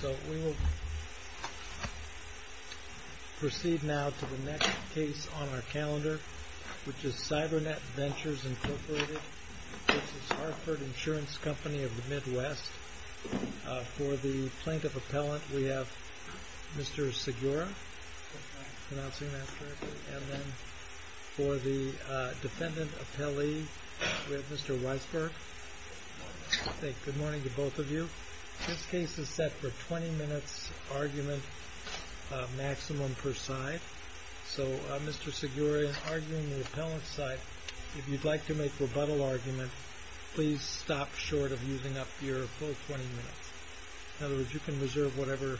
So we will proceed now to the next case on our calendar, which is CYBERNET VENTURES Incorporated v. HARTFORD INSURANCE COMPANY of the Midwest. For the Plaintiff Appellant, we have Mr. Segura, and then for the Defendant Appellee, we have Mr. Weisberg. Good morning to both of you. This case is set for 20 minutes argument maximum per side. So Mr. Segura, in arguing the Appellant's side, if you'd like to make rebuttal argument, please stop short of using up your full 20 minutes. In other words, you can reserve whatever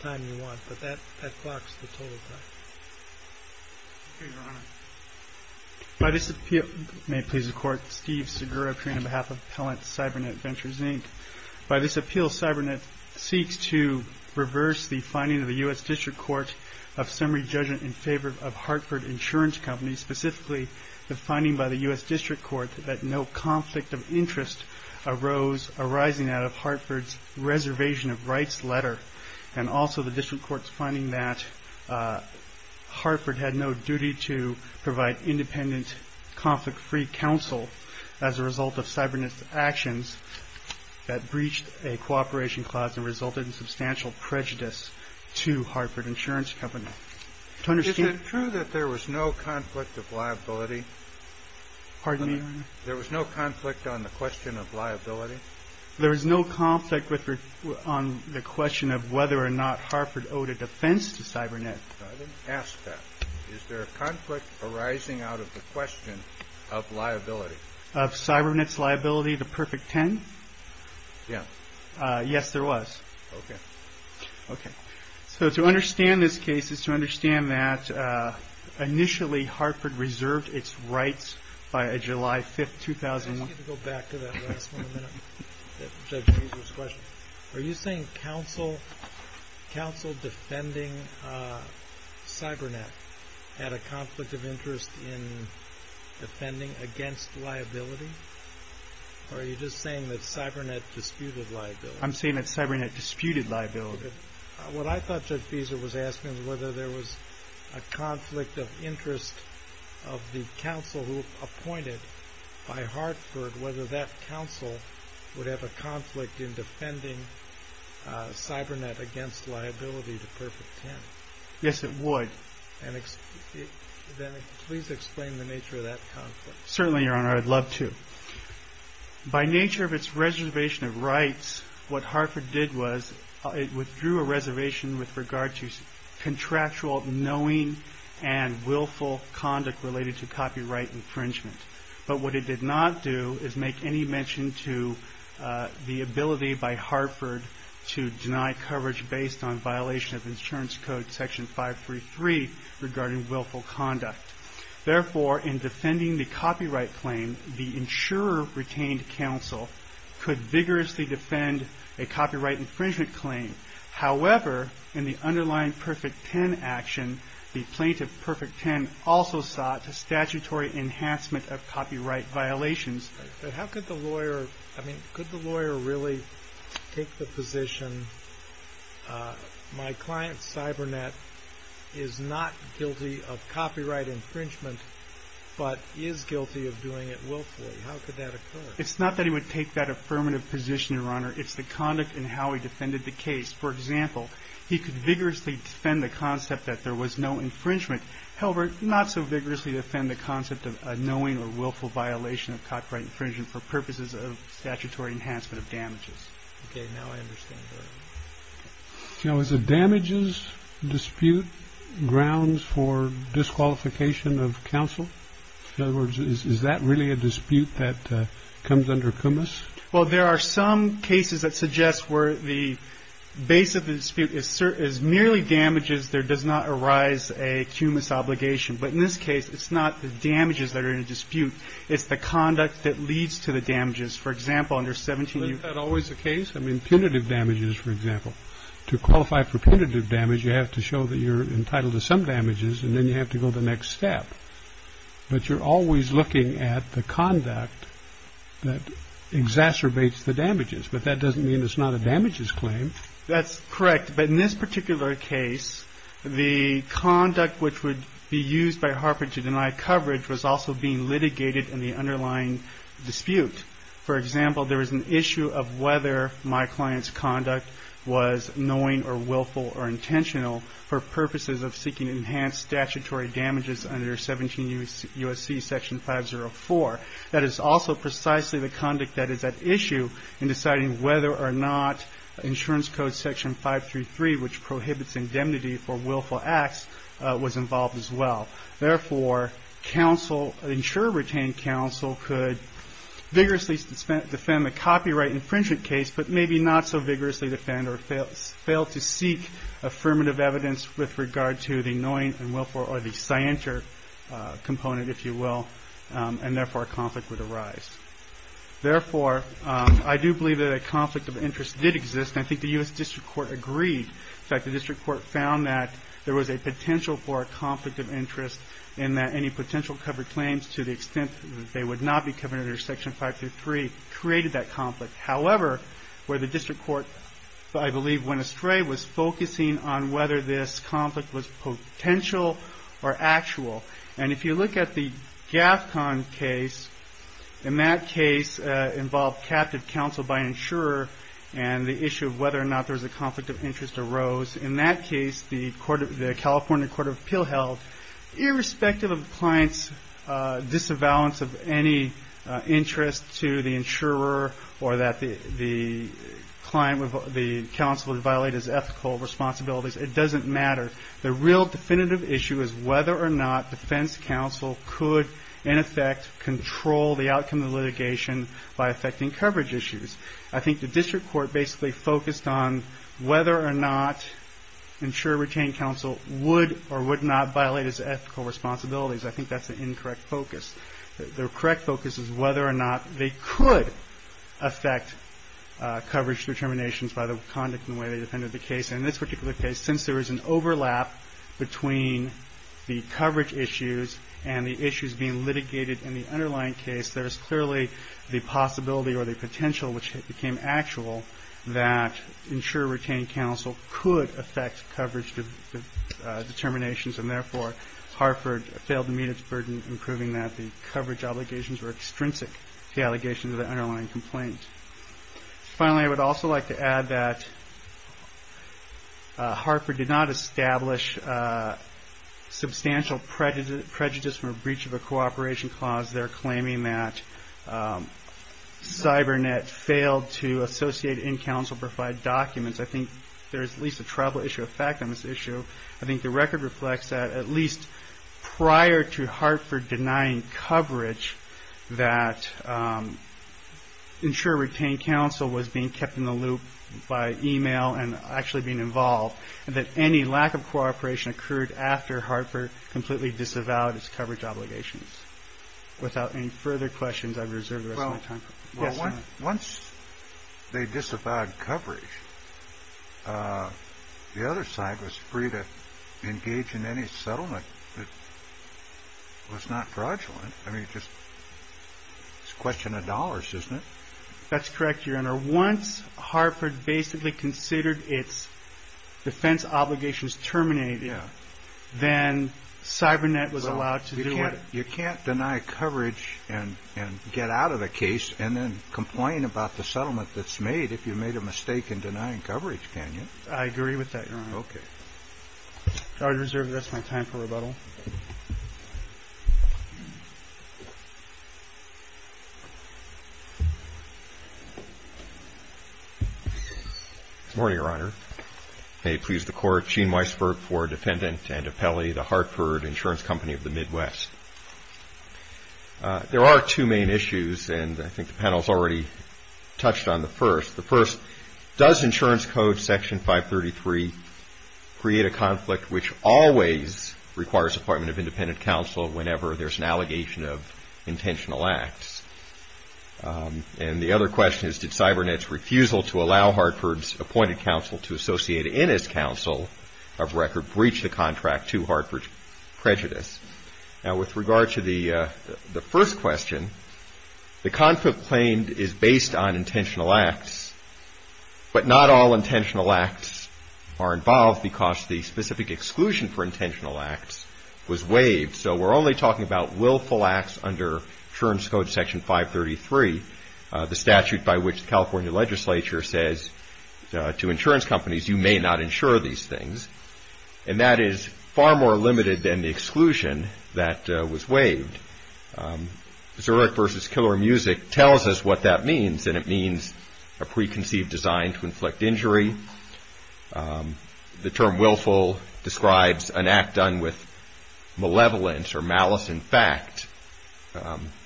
time you want, but that clocks the total time. Your Honor. May it please the Court, Steve Segura, appearing on behalf of Appellant Cybernet Ventures, Inc. By this appeal, Cybernet seeks to reverse the finding of the U.S. District Court of summary judgment in favor of Hartford Insurance Company, specifically the finding by the U.S. District Court that no conflict of interest arose arising out of Hartford's reservation of rights letter, and also the District Court's finding that Hartford had no duty to provide independent, conflict-free counsel as a result of Cybernet's actions that breached a cooperation clause and resulted in substantial prejudice to Hartford Insurance Company. Is it true that there was no conflict of liability? Pardon me? There was no conflict on the question of liability? There was no conflict on the question of whether or not Hartford owed a defense to Cybernet? I didn't ask that. Is there a conflict arising out of the question of liability? Of Cybernet's liability, the perfect 10? Yeah. Yes, there was. Okay. Okay. So to understand this case is to understand that initially Hartford reserved its rights by July 5, 2001. I want you to go back to that last one a minute, Judge Fieser's question. Are you saying counsel defending Cybernet had a conflict of interest in defending against liability? Or are you just saying that Cybernet disputed liability? I'm saying that Cybernet disputed liability. What I thought Judge Fieser was asking was whether there was a conflict of interest of the counsel who appointed by Hartford, whether that counsel would have a conflict in defending Cybernet against liability, the perfect 10. Yes, it would. Then please explain the nature of that conflict. Certainly, Your Honor, I'd love to. By nature of its reservation of rights, what Hartford did was it withdrew a reservation with regard to contractual knowing and willful conduct related to copyright infringement. But what it did not do is make any mention to the ability by Hartford to deny coverage based on violation of Insurance Code Section 533 regarding willful conduct. Therefore, in defending the copyright claim, the insurer retained counsel could vigorously defend a copyright infringement claim. However, in the underlying perfect 10 action, the plaintiff perfect 10 also sought a statutory enhancement of copyright violations. But how could the lawyer, I mean, could the lawyer really take the position my client Cybernet is not guilty of copyright infringement but is guilty of doing it willfully? How could that occur? It's not that he would take that affirmative position, Your Honor. It's the conduct in how he defended the case. For example, he could vigorously defend the concept that there was no infringement. However, not so vigorously defend the concept of a knowing or willful violation of copyright infringement for purposes of statutory enhancement of damages. OK. Now I understand. So is a damages dispute grounds for disqualification of counsel? In other words, is that really a dispute that comes under commas? Well, there are some cases that suggest where the base of the dispute is merely damages. There does not arise a commas obligation. But in this case, it's not the damages that are in dispute. It's the conduct that leads to the damages. For example, under 17, you had always a case. I mean, punitive damages, for example, to qualify for punitive damage, you have to show that you're entitled to some damages and then you have to go the next step. But you're always looking at the conduct that exacerbates the damages. But that doesn't mean it's not a damages claim. That's correct. But in this particular case, the conduct which would be used by Harper to deny coverage was also being litigated in the underlying dispute. For example, there was an issue of whether my client's conduct was knowing or willful or intentional for purposes of seeking enhanced statutory damages under 17 U.S.C. section 504. That is also precisely the conduct that is at issue in deciding whether or not insurance code section 533, which prohibits indemnity for willful acts, was involved as well. Therefore, insurer retained counsel could vigorously defend the copyright infringement case, but maybe not so vigorously defend or fail to seek affirmative evidence with regard to the knowing and willful or the scienter component, if you will, and therefore a conflict would arise. Therefore, I do believe that a conflict of interest did exist, and I think the U.S. District Court agreed. In fact, the District Court found that there was a potential for a conflict of interest in that any potential covered claims to the extent that they would not be covered under section 533 created that conflict. However, where the District Court, I believe, went astray was focusing on whether this conflict was potential or actual. If you look at the GAFCON case, in that case involved captive counsel by an insurer and the issue of whether or not there was a conflict of interest arose. In that case, the California Court of Appeal held, irrespective of the client's disavowal of any interest to the insurer or that the counsel would violate his ethical responsibilities, it doesn't matter. The real definitive issue is whether or not defense counsel could, in effect, control the outcome of litigation by affecting coverage issues. I think the District Court basically focused on whether or not insurer retained counsel would or would not violate his ethical responsibilities. I think that's an incorrect focus. The correct focus is whether or not they could affect coverage determinations by the conduct and the way they defended the case. And in this particular case, since there is an overlap between the coverage issues and the issues being litigated in the underlying case, there is clearly the possibility or the potential, which became actual, that insurer retained counsel could affect coverage determinations. And therefore, Harford failed to meet its burden in proving that the coverage obligations were extrinsic to the allegations of the underlying complaint. Finally, I would also like to add that Harford did not establish substantial prejudice or breach of a cooperation clause there, claiming that CyberNet failed to associate in counsel-profiled documents. I think there is at least a tribal issue of fact on this issue. I think the record reflects that at least prior to Harford denying coverage, that insurer retained counsel was being kept in the loop by e-mail and actually being involved, and that any lack of cooperation occurred after Harford completely disavowed his coverage obligations. Without any further questions, I've reserved the rest of my time. Well, once they disavowed coverage, the other side was free to engage in any settlement that was not fraudulent. I mean, it's a question of dollars, isn't it? That's correct, Your Honor. Once Harford basically considered its defense obligations terminated, then CyberNet was allowed to do it. You can't deny coverage and get out of a case and then complain about the settlement that's made if you made a mistake in denying coverage, can you? I agree with that, Your Honor. Okay. Good morning, Your Honor. May it please the Court, Gene Weisberg for Defendant and Appellee, the Hartford Insurance Company of the Midwest. There are two main issues, and I think the panel has already touched on the first. The first, does insurance code section 533 create a conflict which always requires appointment of independent counsel whenever there's an allegation of intentional acts? And the other question is, did CyberNet's refusal to allow Hartford's appointed counsel to associate in its counsel of record Now, with regard to the first question, the conflict claimed is based on intentional acts, but not all intentional acts are involved because the specific exclusion for intentional acts was waived. So we're only talking about willful acts under insurance code section 533, the statute by which the California legislature says to insurance companies, you may not insure these things, and that is far more limited than the exclusion that was waived. Zurich v. Killer Music tells us what that means, and it means a preconceived design to inflict injury. The term willful describes an act done with malevolence or malice in fact.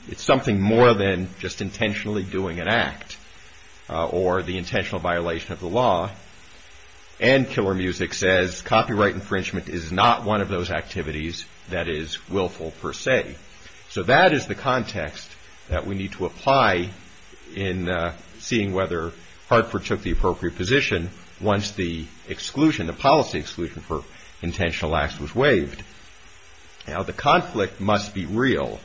It's something more than just intentionally doing an act or the intentional violation of the law, and Killer Music says copyright infringement is not one of those activities that is willful per se. So that is the context that we need to apply in seeing whether Hartford took the appropriate position once the exclusion, the policy exclusion for intentional acts was waived. Now, the conflict must be real.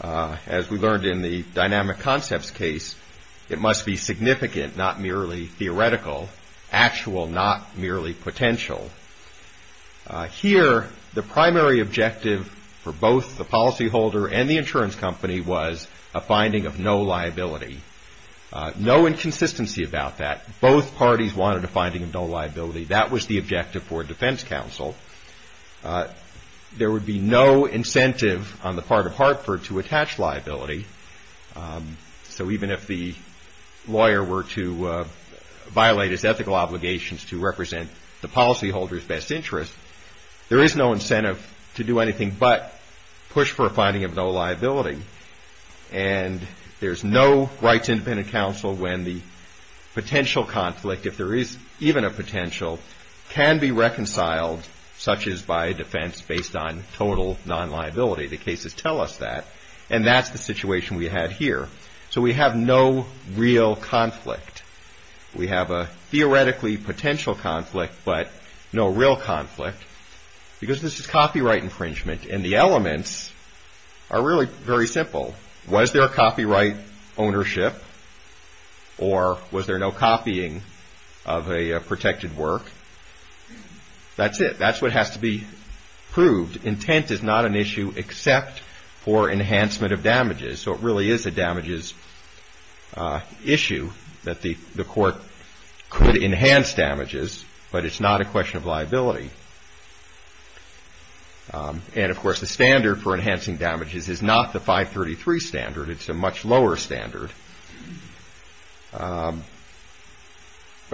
As we learned in the dynamic concepts case, it must be significant, not merely theoretical, actual, not merely potential. Here, the primary objective for both the policyholder and the insurance company was a finding of no liability. No inconsistency about that. Both parties wanted a finding of no liability. That was the objective for defense counsel. There would be no incentive on the part of Hartford to attach liability. So even if the lawyer were to violate his ethical obligations to represent the policyholder's best interest, there is no incentive to do anything but push for a finding of no liability. And there's no right to independent counsel when the potential conflict, if there is even a potential, can be reconciled such as by defense based on total non-liability. The cases tell us that, and that's the situation we had here. So we have no real conflict. We have a theoretically potential conflict but no real conflict because this is copyright infringement, and the elements are really very simple. Was there a copyright ownership or was there no copying of a protected work? That's it. That's what has to be proved. Intent is not an issue except for enhancement of damages. So it really is a damages issue that the court could enhance damages, but it's not a question of liability. And, of course, the standard for enhancing damages is not the 533 standard. It's a much lower standard. But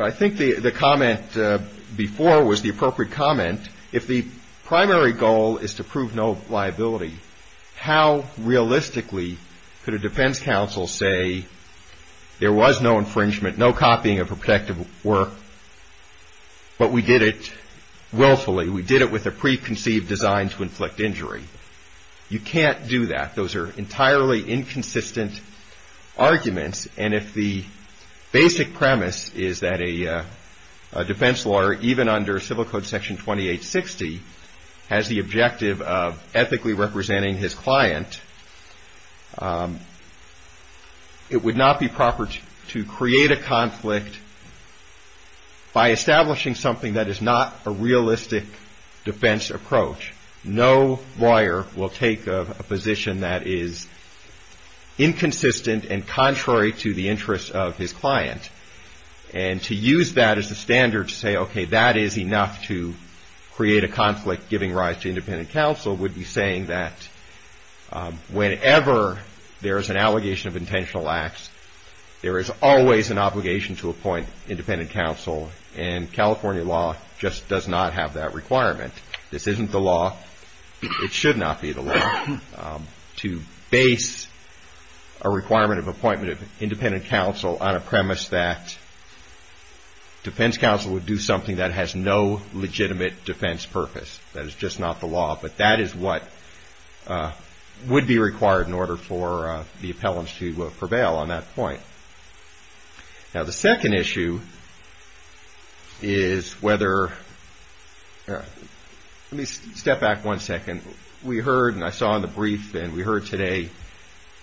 I think the comment before was the appropriate comment. If the primary goal is to prove no liability, how realistically could a defense counsel say there was no infringement, no copying of a protected work, but we did it willfully? We did it with a preconceived design to inflict injury? You can't do that. Those are entirely inconsistent arguments, and if the basic premise is that a defense lawyer, even under Civil Code Section 2860, has the objective of ethically representing his client, it would not be proper to create a conflict by establishing something that is not a realistic defense approach. No lawyer will take a position that is inconsistent and contrary to the interests of his client. And to use that as a standard to say, okay, that is enough to create a conflict giving rise to independent counsel, would be saying that whenever there is an allegation of intentional acts, there is always an obligation to appoint independent counsel, and California law just does not have that requirement. This isn't the law. It should not be the law to base a requirement of appointment of independent counsel on a premise that defense counsel would do something that has no legitimate defense purpose. That is just not the law, but that is what would be required in order for the appellants to prevail on that point. Now, the second issue is whether – let me step back one second. We heard, and I saw in the brief, and we heard today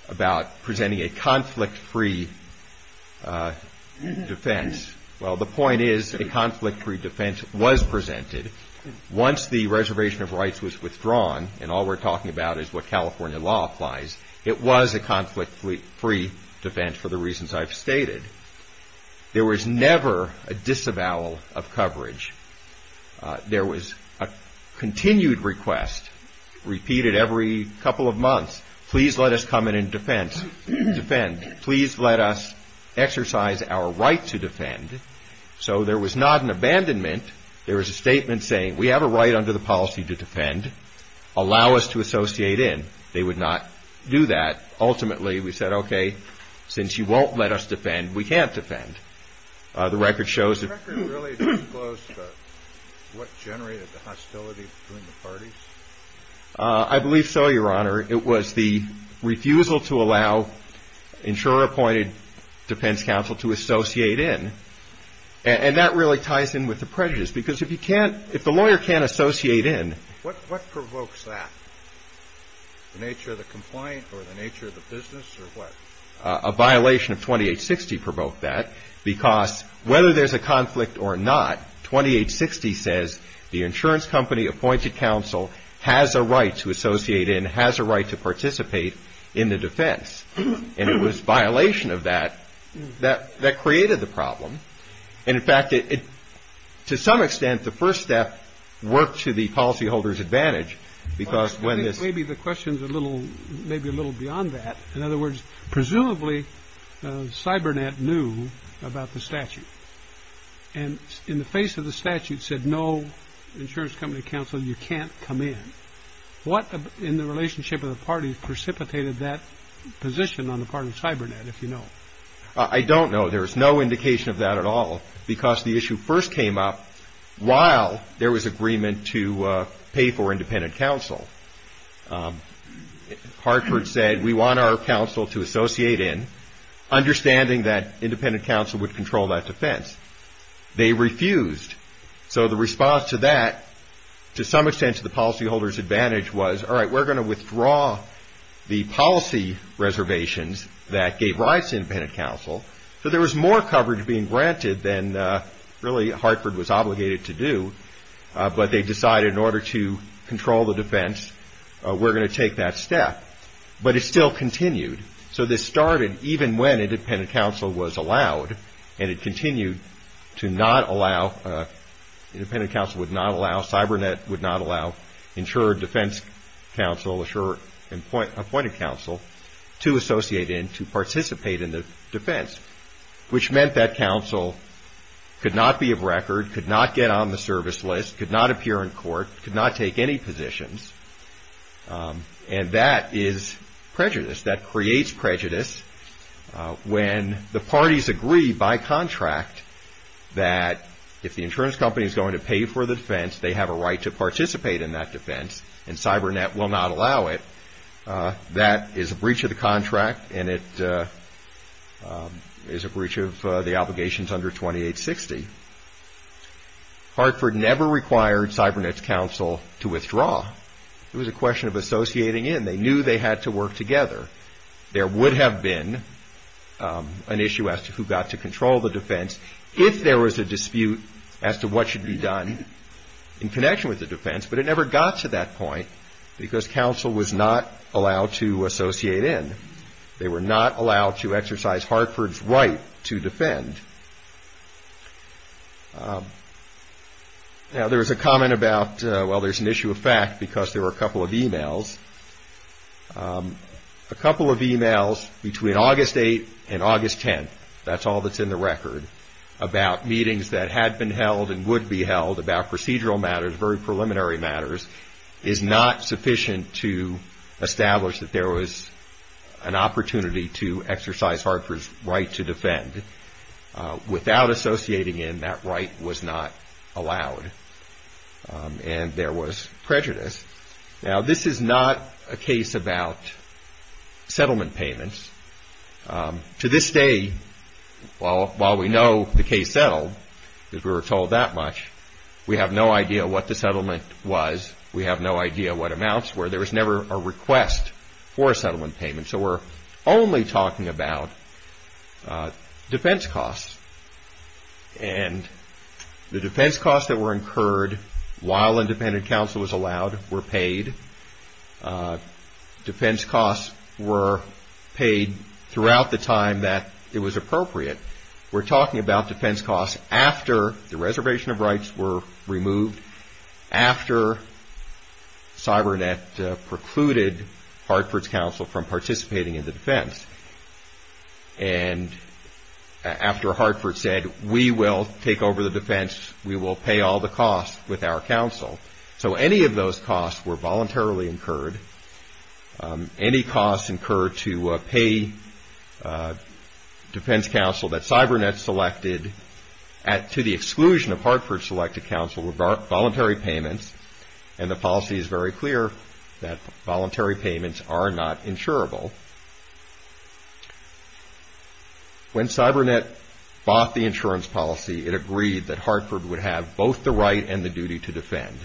about presenting a conflict-free defense. Well, the point is a conflict-free defense was presented. Once the reservation of rights was withdrawn, and all we're talking about is what California law applies, it was a conflict-free defense for the reasons I've stated. There was never a disavowal of coverage. There was a continued request repeated every couple of months. Please let us come in and defend. Please let us exercise our right to defend. So there was not an abandonment. There was a statement saying, we have a right under the policy to defend. Allow us to associate in. They would not do that. Ultimately, we said, okay, since you won't let us defend, we can't defend. The record shows – The record really disclosed what generated the hostility between the parties? I believe so, Your Honor. It was the refusal to allow insurer-appointed defense counsel to associate in, and that really ties in with the prejudice, because if you can't – if the lawyer can't associate in – What provokes that? The nature of the complaint or the nature of the business or what? A violation of 2860 provoked that, because whether there's a conflict or not, 2860 says the insurance company-appointed counsel has a right to associate in, has a right to participate in the defense, and it was violation of that that created the problem. And, in fact, to some extent, the first step worked to the policyholder's advantage, because when this – Maybe the question's a little – maybe a little beyond that. In other words, presumably, CyberNet knew about the statute, and in the face of the statute said, no, insurance company counsel, you can't come in. What in the relationship of the parties precipitated that position on the part of CyberNet, if you know? I don't know. There is no indication of that at all, because the issue first came up while there was agreement to pay for independent counsel. Hartford said, we want our counsel to associate in, understanding that independent counsel would control that defense. They refused. So the response to that, to some extent to the policyholder's advantage, was, all right, we're going to withdraw the policy reservations that gave rights to independent counsel. So there was more coverage being granted than really Hartford was obligated to do, but they decided in order to control the defense, we're going to take that step. But it still continued. So this started even when independent counsel was allowed, and it continued to not allow – independent counsel would not allow, CyberNet would not allow insured defense counsel, insured appointed counsel to associate in, to participate in the defense, which meant that counsel could not be of record, could not get on the service list, could not appear in court, could not take any positions. And that is prejudice. That creates prejudice when the parties agree by contract that if the insurance company is going to pay for the defense, they have a right to participate in that defense, and CyberNet will not allow it. That is a breach of the contract, and it is a breach of the obligations under 2860. Hartford never required CyberNet's counsel to withdraw. It was a question of associating in. They knew they had to work together. There would have been an issue as to who got to control the defense if there was a dispute as to what should be done in connection with the defense, but it never got to that point because counsel was not allowed to associate in. They were not allowed to exercise Hartford's right to defend. Now, there was a comment about, well, there's an issue of fact because there were a couple of e-mails. A couple of e-mails between August 8th and August 10th, that's all that's in the record, about meetings that had been held and would be held about procedural matters, very preliminary matters, is not sufficient to establish that there was an opportunity to exercise Hartford's right to defend. Without associating in, that right was not allowed, and there was prejudice. Now, this is not a case about settlement payments. To this day, while we know the case settled because we were told that much, we have no idea what the settlement was. We have no idea what amounts were. There was never a request for a settlement payment, so we're only talking about defense costs, and the defense costs that were incurred while independent counsel was allowed were paid. Defense costs were paid throughout the time that it was appropriate. We're talking about defense costs after the reservation of rights were removed, after CyberNet precluded Hartford's counsel from participating in the defense, and after Hartford said, we will take over the defense, we will pay all the costs with our counsel. So any of those costs were voluntarily incurred. Any costs incurred to pay defense counsel that CyberNet selected, to the exclusion of Hartford's selected counsel, were voluntary payments, and the policy is very clear that voluntary payments are not insurable. When CyberNet bought the insurance policy, it agreed that Hartford would have both the right and the duty to defend,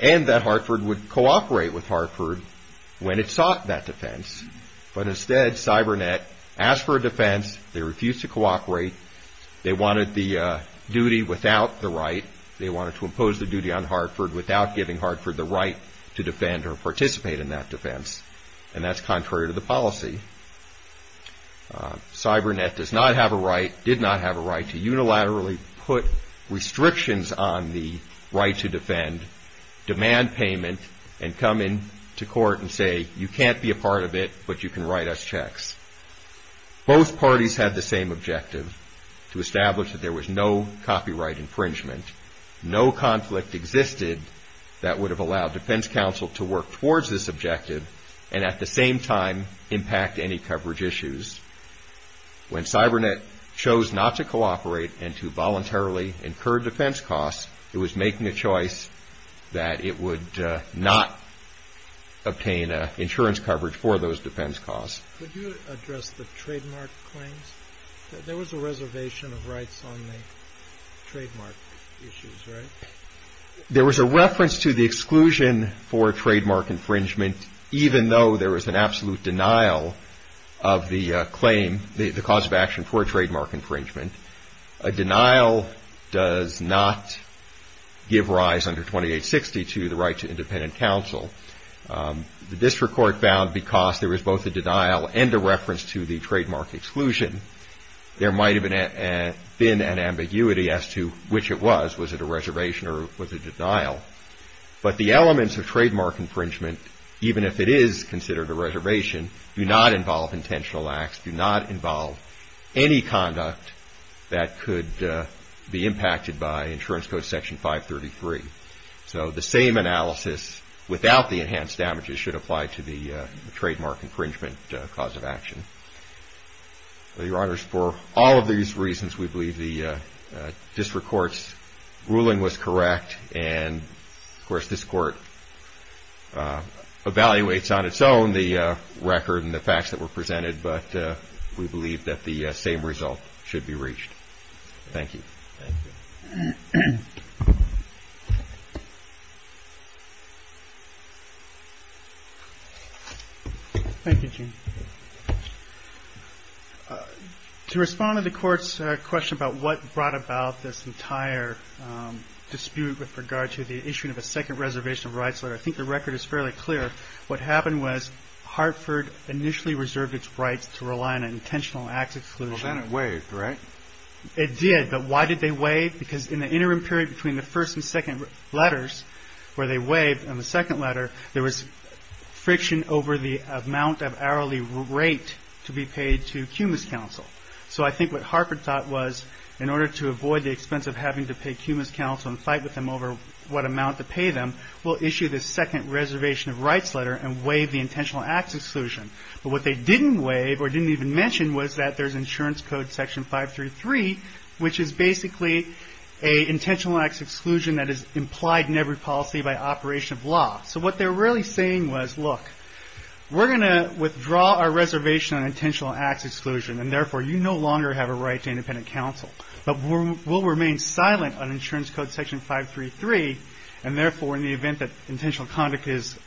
and that Hartford would cooperate with Hartford when it sought that defense, but instead CyberNet asked for a defense, they refused to cooperate, they wanted the duty without the right, they wanted to impose the duty on Hartford without giving Hartford the right to defend or participate in that defense, and that's contrary to the policy. CyberNet does not have a right, did not have a right, to unilaterally put restrictions on the right to defend, demand payment, and come into court and say, you can't be a part of it, but you can write us checks. Both parties had the same objective, to establish that there was no copyright infringement, no conflict existed that would have allowed defense counsel to work towards this objective, and at the same time impact any coverage issues. When CyberNet chose not to cooperate and to voluntarily incur defense costs, it was making a choice that it would not obtain insurance coverage for those defense costs. Could you address the trademark claims? There was a reservation of rights on the trademark issues, right? There was a reference to the exclusion for a trademark infringement, even though there was an absolute denial of the claim, the cause of action for a trademark infringement. A denial does not give rise under 2860 to the right to independent counsel. The district court found because there was both a denial and a reference to the trademark exclusion, there might have been an ambiguity as to which it was. Was it a reservation or was it a denial? But the elements of trademark infringement, even if it is considered a reservation, do not involve intentional acts, do not involve any conduct that could be impacted by Insurance Code Section 533. So the same analysis without the enhanced damages should apply to the trademark infringement cause of action. Your Honors, for all of these reasons, we believe the district court's ruling was correct, and of course this court evaluates on its own the record and the facts that were presented, but we believe that the same result should be reached. Thank you. Thank you, Gene. To respond to the court's question about what brought about this entire dispute with regard to the issuing of a second reservation of rights, I think the record is fairly clear. What happened was Hartford initially reserved its rights to rely on an intentional acts exclusion. Well, then it waived, right? It did, but why did they waive? Because in the interim period between the first and second letters where they waived in the second letter, there was friction over the amount of hourly rate to be paid to Cumas Council. So I think what Hartford thought was in order to avoid the expense of having to pay Cumas Council and fight with them over what amount to pay them, we'll issue the second reservation of rights letter and waive the intentional acts exclusion. But what they didn't waive or didn't even mention was that there's insurance code section 533, which is basically an intentional acts exclusion that is implied in every policy by operation of law. So what they're really saying was, look, we're going to withdraw our reservation on intentional acts exclusion, and therefore you no longer have a right to independent counsel. But we'll remain silent on insurance code section 533, and therefore in the event that intentional conduct is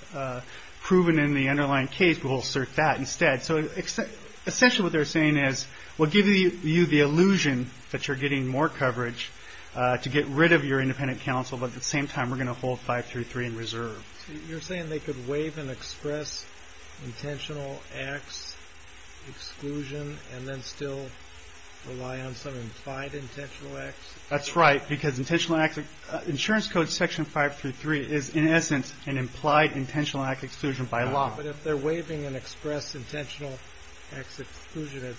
proven in the underlying case, we'll assert that instead. So essentially what they're saying is, we'll give you the illusion that you're getting more coverage to get rid of your independent counsel, but at the same time we're going to hold 533 in reserve. So you're saying they could waive and express intentional acts exclusion and then still rely on some implied intentional acts? That's right, because insurance code section 533 is in essence an implied intentional acts exclusion by law. But if they're waiving and express intentional acts exclusion, it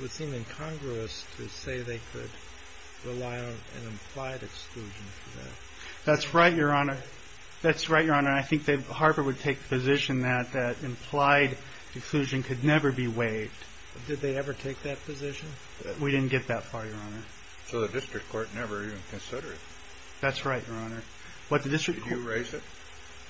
would seem incongruous to say they could rely on an implied exclusion for that. That's right, Your Honor. That's right, Your Honor. I think that Harper would take the position that implied exclusion could never be waived. Did they ever take that position? We didn't get that far, Your Honor. So the district court never even considered it? That's right, Your Honor. Did you raise it?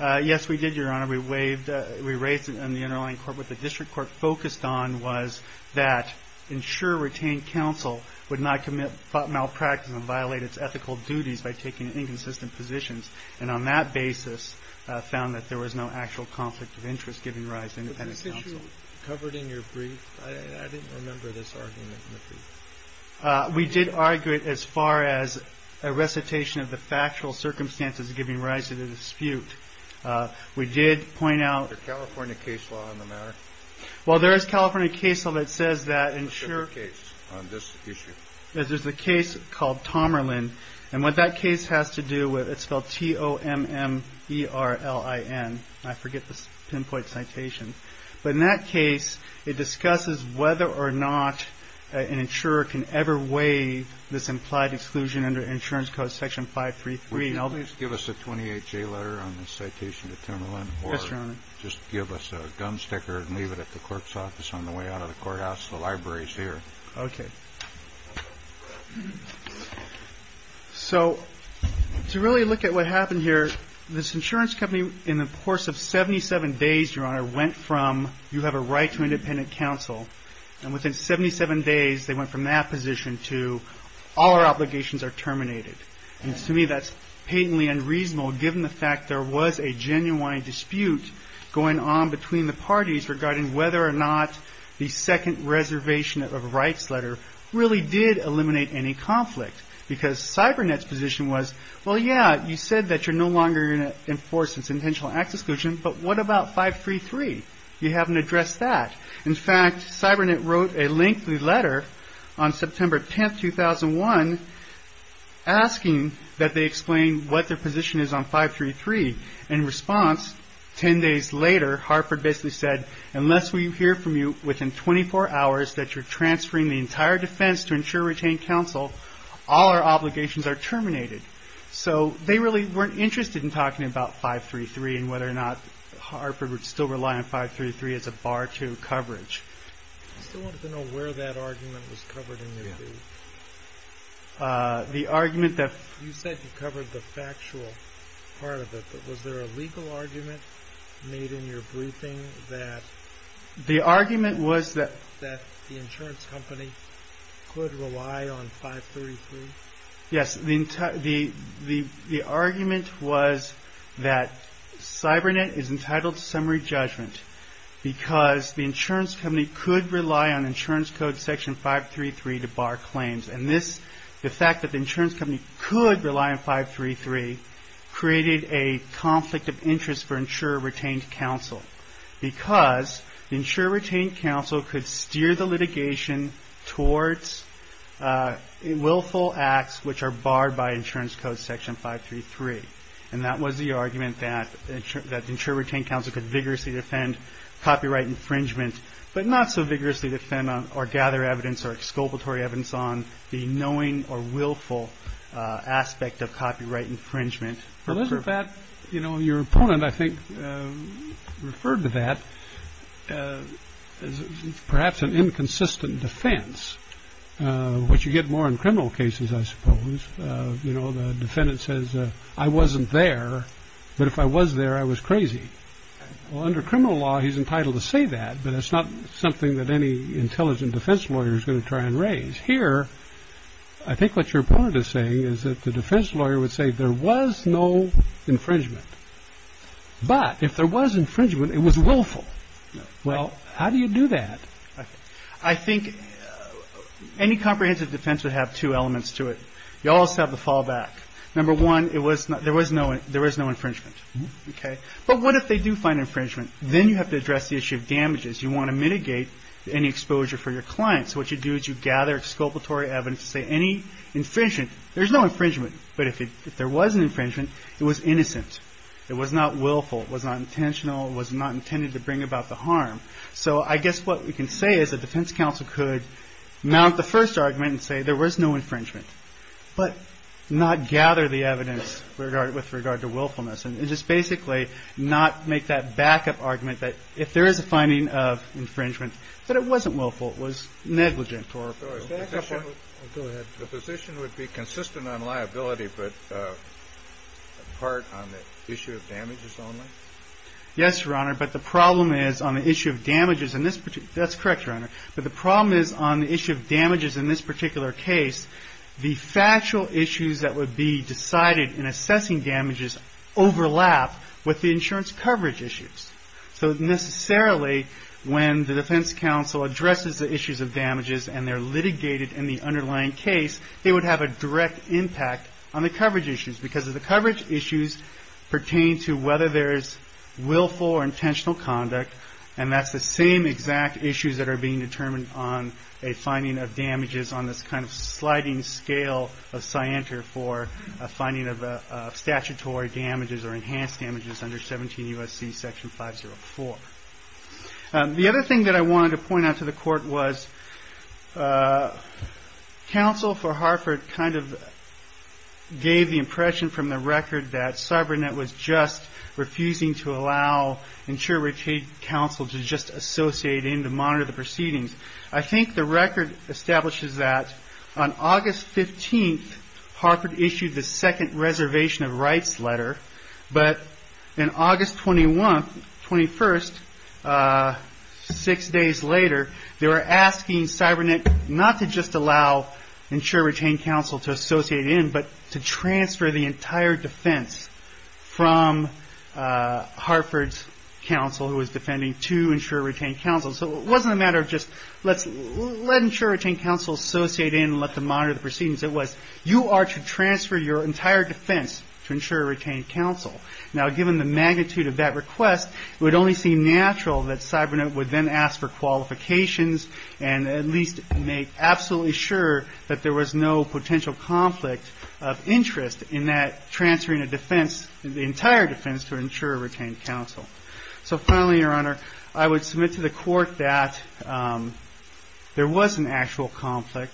Yes, we did, Your Honor. We raised it in the underlying court. What the district court focused on was that insurer-retained counsel would not commit malpractice and violate its ethical duties by taking inconsistent positions, and on that basis found that there was no actual conflict of interest giving rise to independent counsel. Weren't you covered in your brief? I didn't remember this argument in the brief. We did argue it as far as a recitation of the factual circumstances giving rise to the dispute. We did point out- Is there California case law on the matter? Well, there is California case law that says that insurer- What's the case on this issue? There's a case called Tomerland, and what that case has to do with, it's spelled T-O-M-M-E-R-L-I-N. I forget the pinpoint citation. But in that case, it discusses whether or not an insurer can ever waive this implied exclusion under insurance code section 533. Would you please give us a 28-J letter on this citation to Tomerland? Yes, Your Honor. Or just give us a gum sticker and leave it at the clerk's office on the way out of the courthouse. The library is here. Okay. So, to really look at what happened here, this insurance company, in the course of 77 days, Your Honor, went from, you have a right to independent counsel. And within 77 days, they went from that position to, all our obligations are terminated. And to me, that's patently unreasonable, given the fact there was a genuine dispute going on between the parties regarding whether or not the second reservation of rights letter really did eliminate any conflict. Because CyberNet's position was, well, yeah, you said that you're no longer going to enforce this intentional exclusion, but what about 533? You haven't addressed that. In fact, CyberNet wrote a lengthy letter on September 10, 2001, asking that they explain what their position is on 533. In response, 10 days later, Harford basically said, unless we hear from you within 24 hours that you're transferring the entire defense to ensure retained counsel, all our obligations are terminated. So, they really weren't interested in talking about 533 and whether or not Harford would still rely on 533 as a bar to coverage. I still wanted to know where that argument was covered in your view. The argument that... You said you covered the factual part of it, but was there a legal argument made in your briefing that... The argument was that... That the insurance company could rely on 533? Yes, the argument was that CyberNet is entitled to summary judgment, because the insurance company could rely on insurance code section 533 to bar claims. The fact that the insurance company could rely on 533 created a conflict of interest for insurer retained counsel, because the insurer retained counsel could steer the litigation towards willful acts which are barred by insurance code section 533. And that was the argument that insurer retained counsel could vigorously defend copyright infringement, but not so vigorously defend or gather evidence or exculpatory evidence on the knowing or willful aspect of copyright infringement. Well, isn't that... You know, your opponent, I think, referred to that as perhaps an inconsistent defense, which you get more in criminal cases, I suppose. You know, the defendant says, I wasn't there, but if I was there, I was crazy. Well, under criminal law, he's entitled to say that, but it's not something that any intelligent defense lawyer is going to try and raise. Here, I think what your opponent is saying is that the defense lawyer would say there was no infringement. But if there was infringement, it was willful. Well, how do you do that? I think any comprehensive defense would have two elements to it. You also have the fallback. Number one, there was no infringement. But what if they do find infringement? Then you have to address the issue of damages. You want to mitigate any exposure for your client. So what you do is you gather exculpatory evidence to say any infringement. There's no infringement, but if there was an infringement, it was innocent. It was not willful. It was not intentional. It was not intended to bring about the harm. So I guess what we can say is the defense counsel could mount the first argument and say there was no infringement, but not gather the evidence with regard to willfulness and just basically not make that backup argument that if there is a finding of infringement, that it wasn't willful. It was negligent. The position would be consistent on liability, but part on the issue of damages only? Yes, Your Honor, but the problem is on the issue of damages in this particular case, the factual issues that would be decided in assessing damages overlap with the insurance coverage issues. So necessarily when the defense counsel addresses the issues of damages and they're litigated in the underlying case, they would have a direct impact on the coverage issues because the coverage issues pertain to whether there is willful or intentional conduct, and that's the same exact issues that are being determined on a finding of damages on this kind of sliding scale of scienter for a finding of statutory damages or enhanced damages under 17 U.S.C. Section 504. The other thing that I wanted to point out to the court was counsel for Harford kind of gave the impression from the record that CyberNet was just refusing to allow insured counsel to just associate in to monitor the proceedings. I think the record establishes that on August 15th, Harford issued the second reservation of rights letter, but on August 21st, six days later, they were asking CyberNet not to just allow insured retained counsel to associate in, but to transfer the entire defense from Harford's counsel who was defending to insured retained counsel. So it wasn't a matter of just let insured retained counsel associate in and let them monitor the proceedings. It was you are to transfer your entire defense to insured retained counsel. Now, given the magnitude of that request, it would only seem natural that CyberNet would then ask for qualifications and at least make absolutely sure that there was no potential conflict of interest in that transferring a defense, the entire defense to insured retained counsel. So finally, Your Honor, I would submit to the court that there was an actual conflict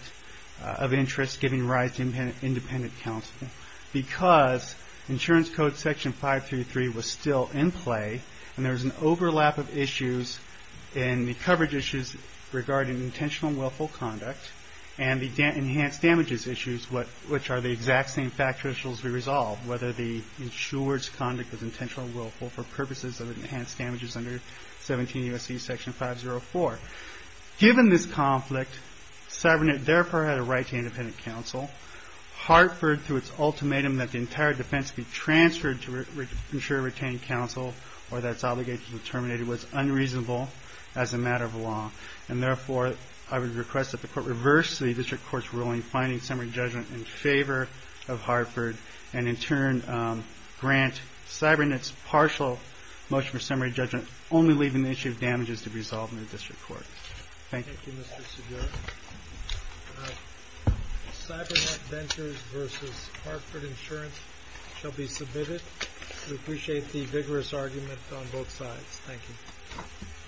of interest giving rise to independent counsel because insurance code section 533 was still in play and there was an overlap of issues in the coverage issues regarding intentional and willful conduct and the enhanced damages issues, which are the exact same factual issues we resolved, whether the insured's conduct was intentional or willful for purposes of enhanced damages under 17 U.S.C. section 504. Given this conflict, CyberNet therefore had a right to independent counsel. Harford, through its ultimatum that the entire defense be transferred to insured retained counsel or that's obligated to be terminated, was unreasonable as a matter of law. And therefore, I would request that the court reverse the district court's ruling, finding summary judgment in favor of Harford and in turn grant CyberNet's partial motion for summary judgment, only leaving the issue of damages to be resolved in the district court. Thank you. Thank you, Mr. Segura. CyberNet Ventures versus Harford Insurance shall be submitted. We appreciate the vigorous argument on both sides. Thank you.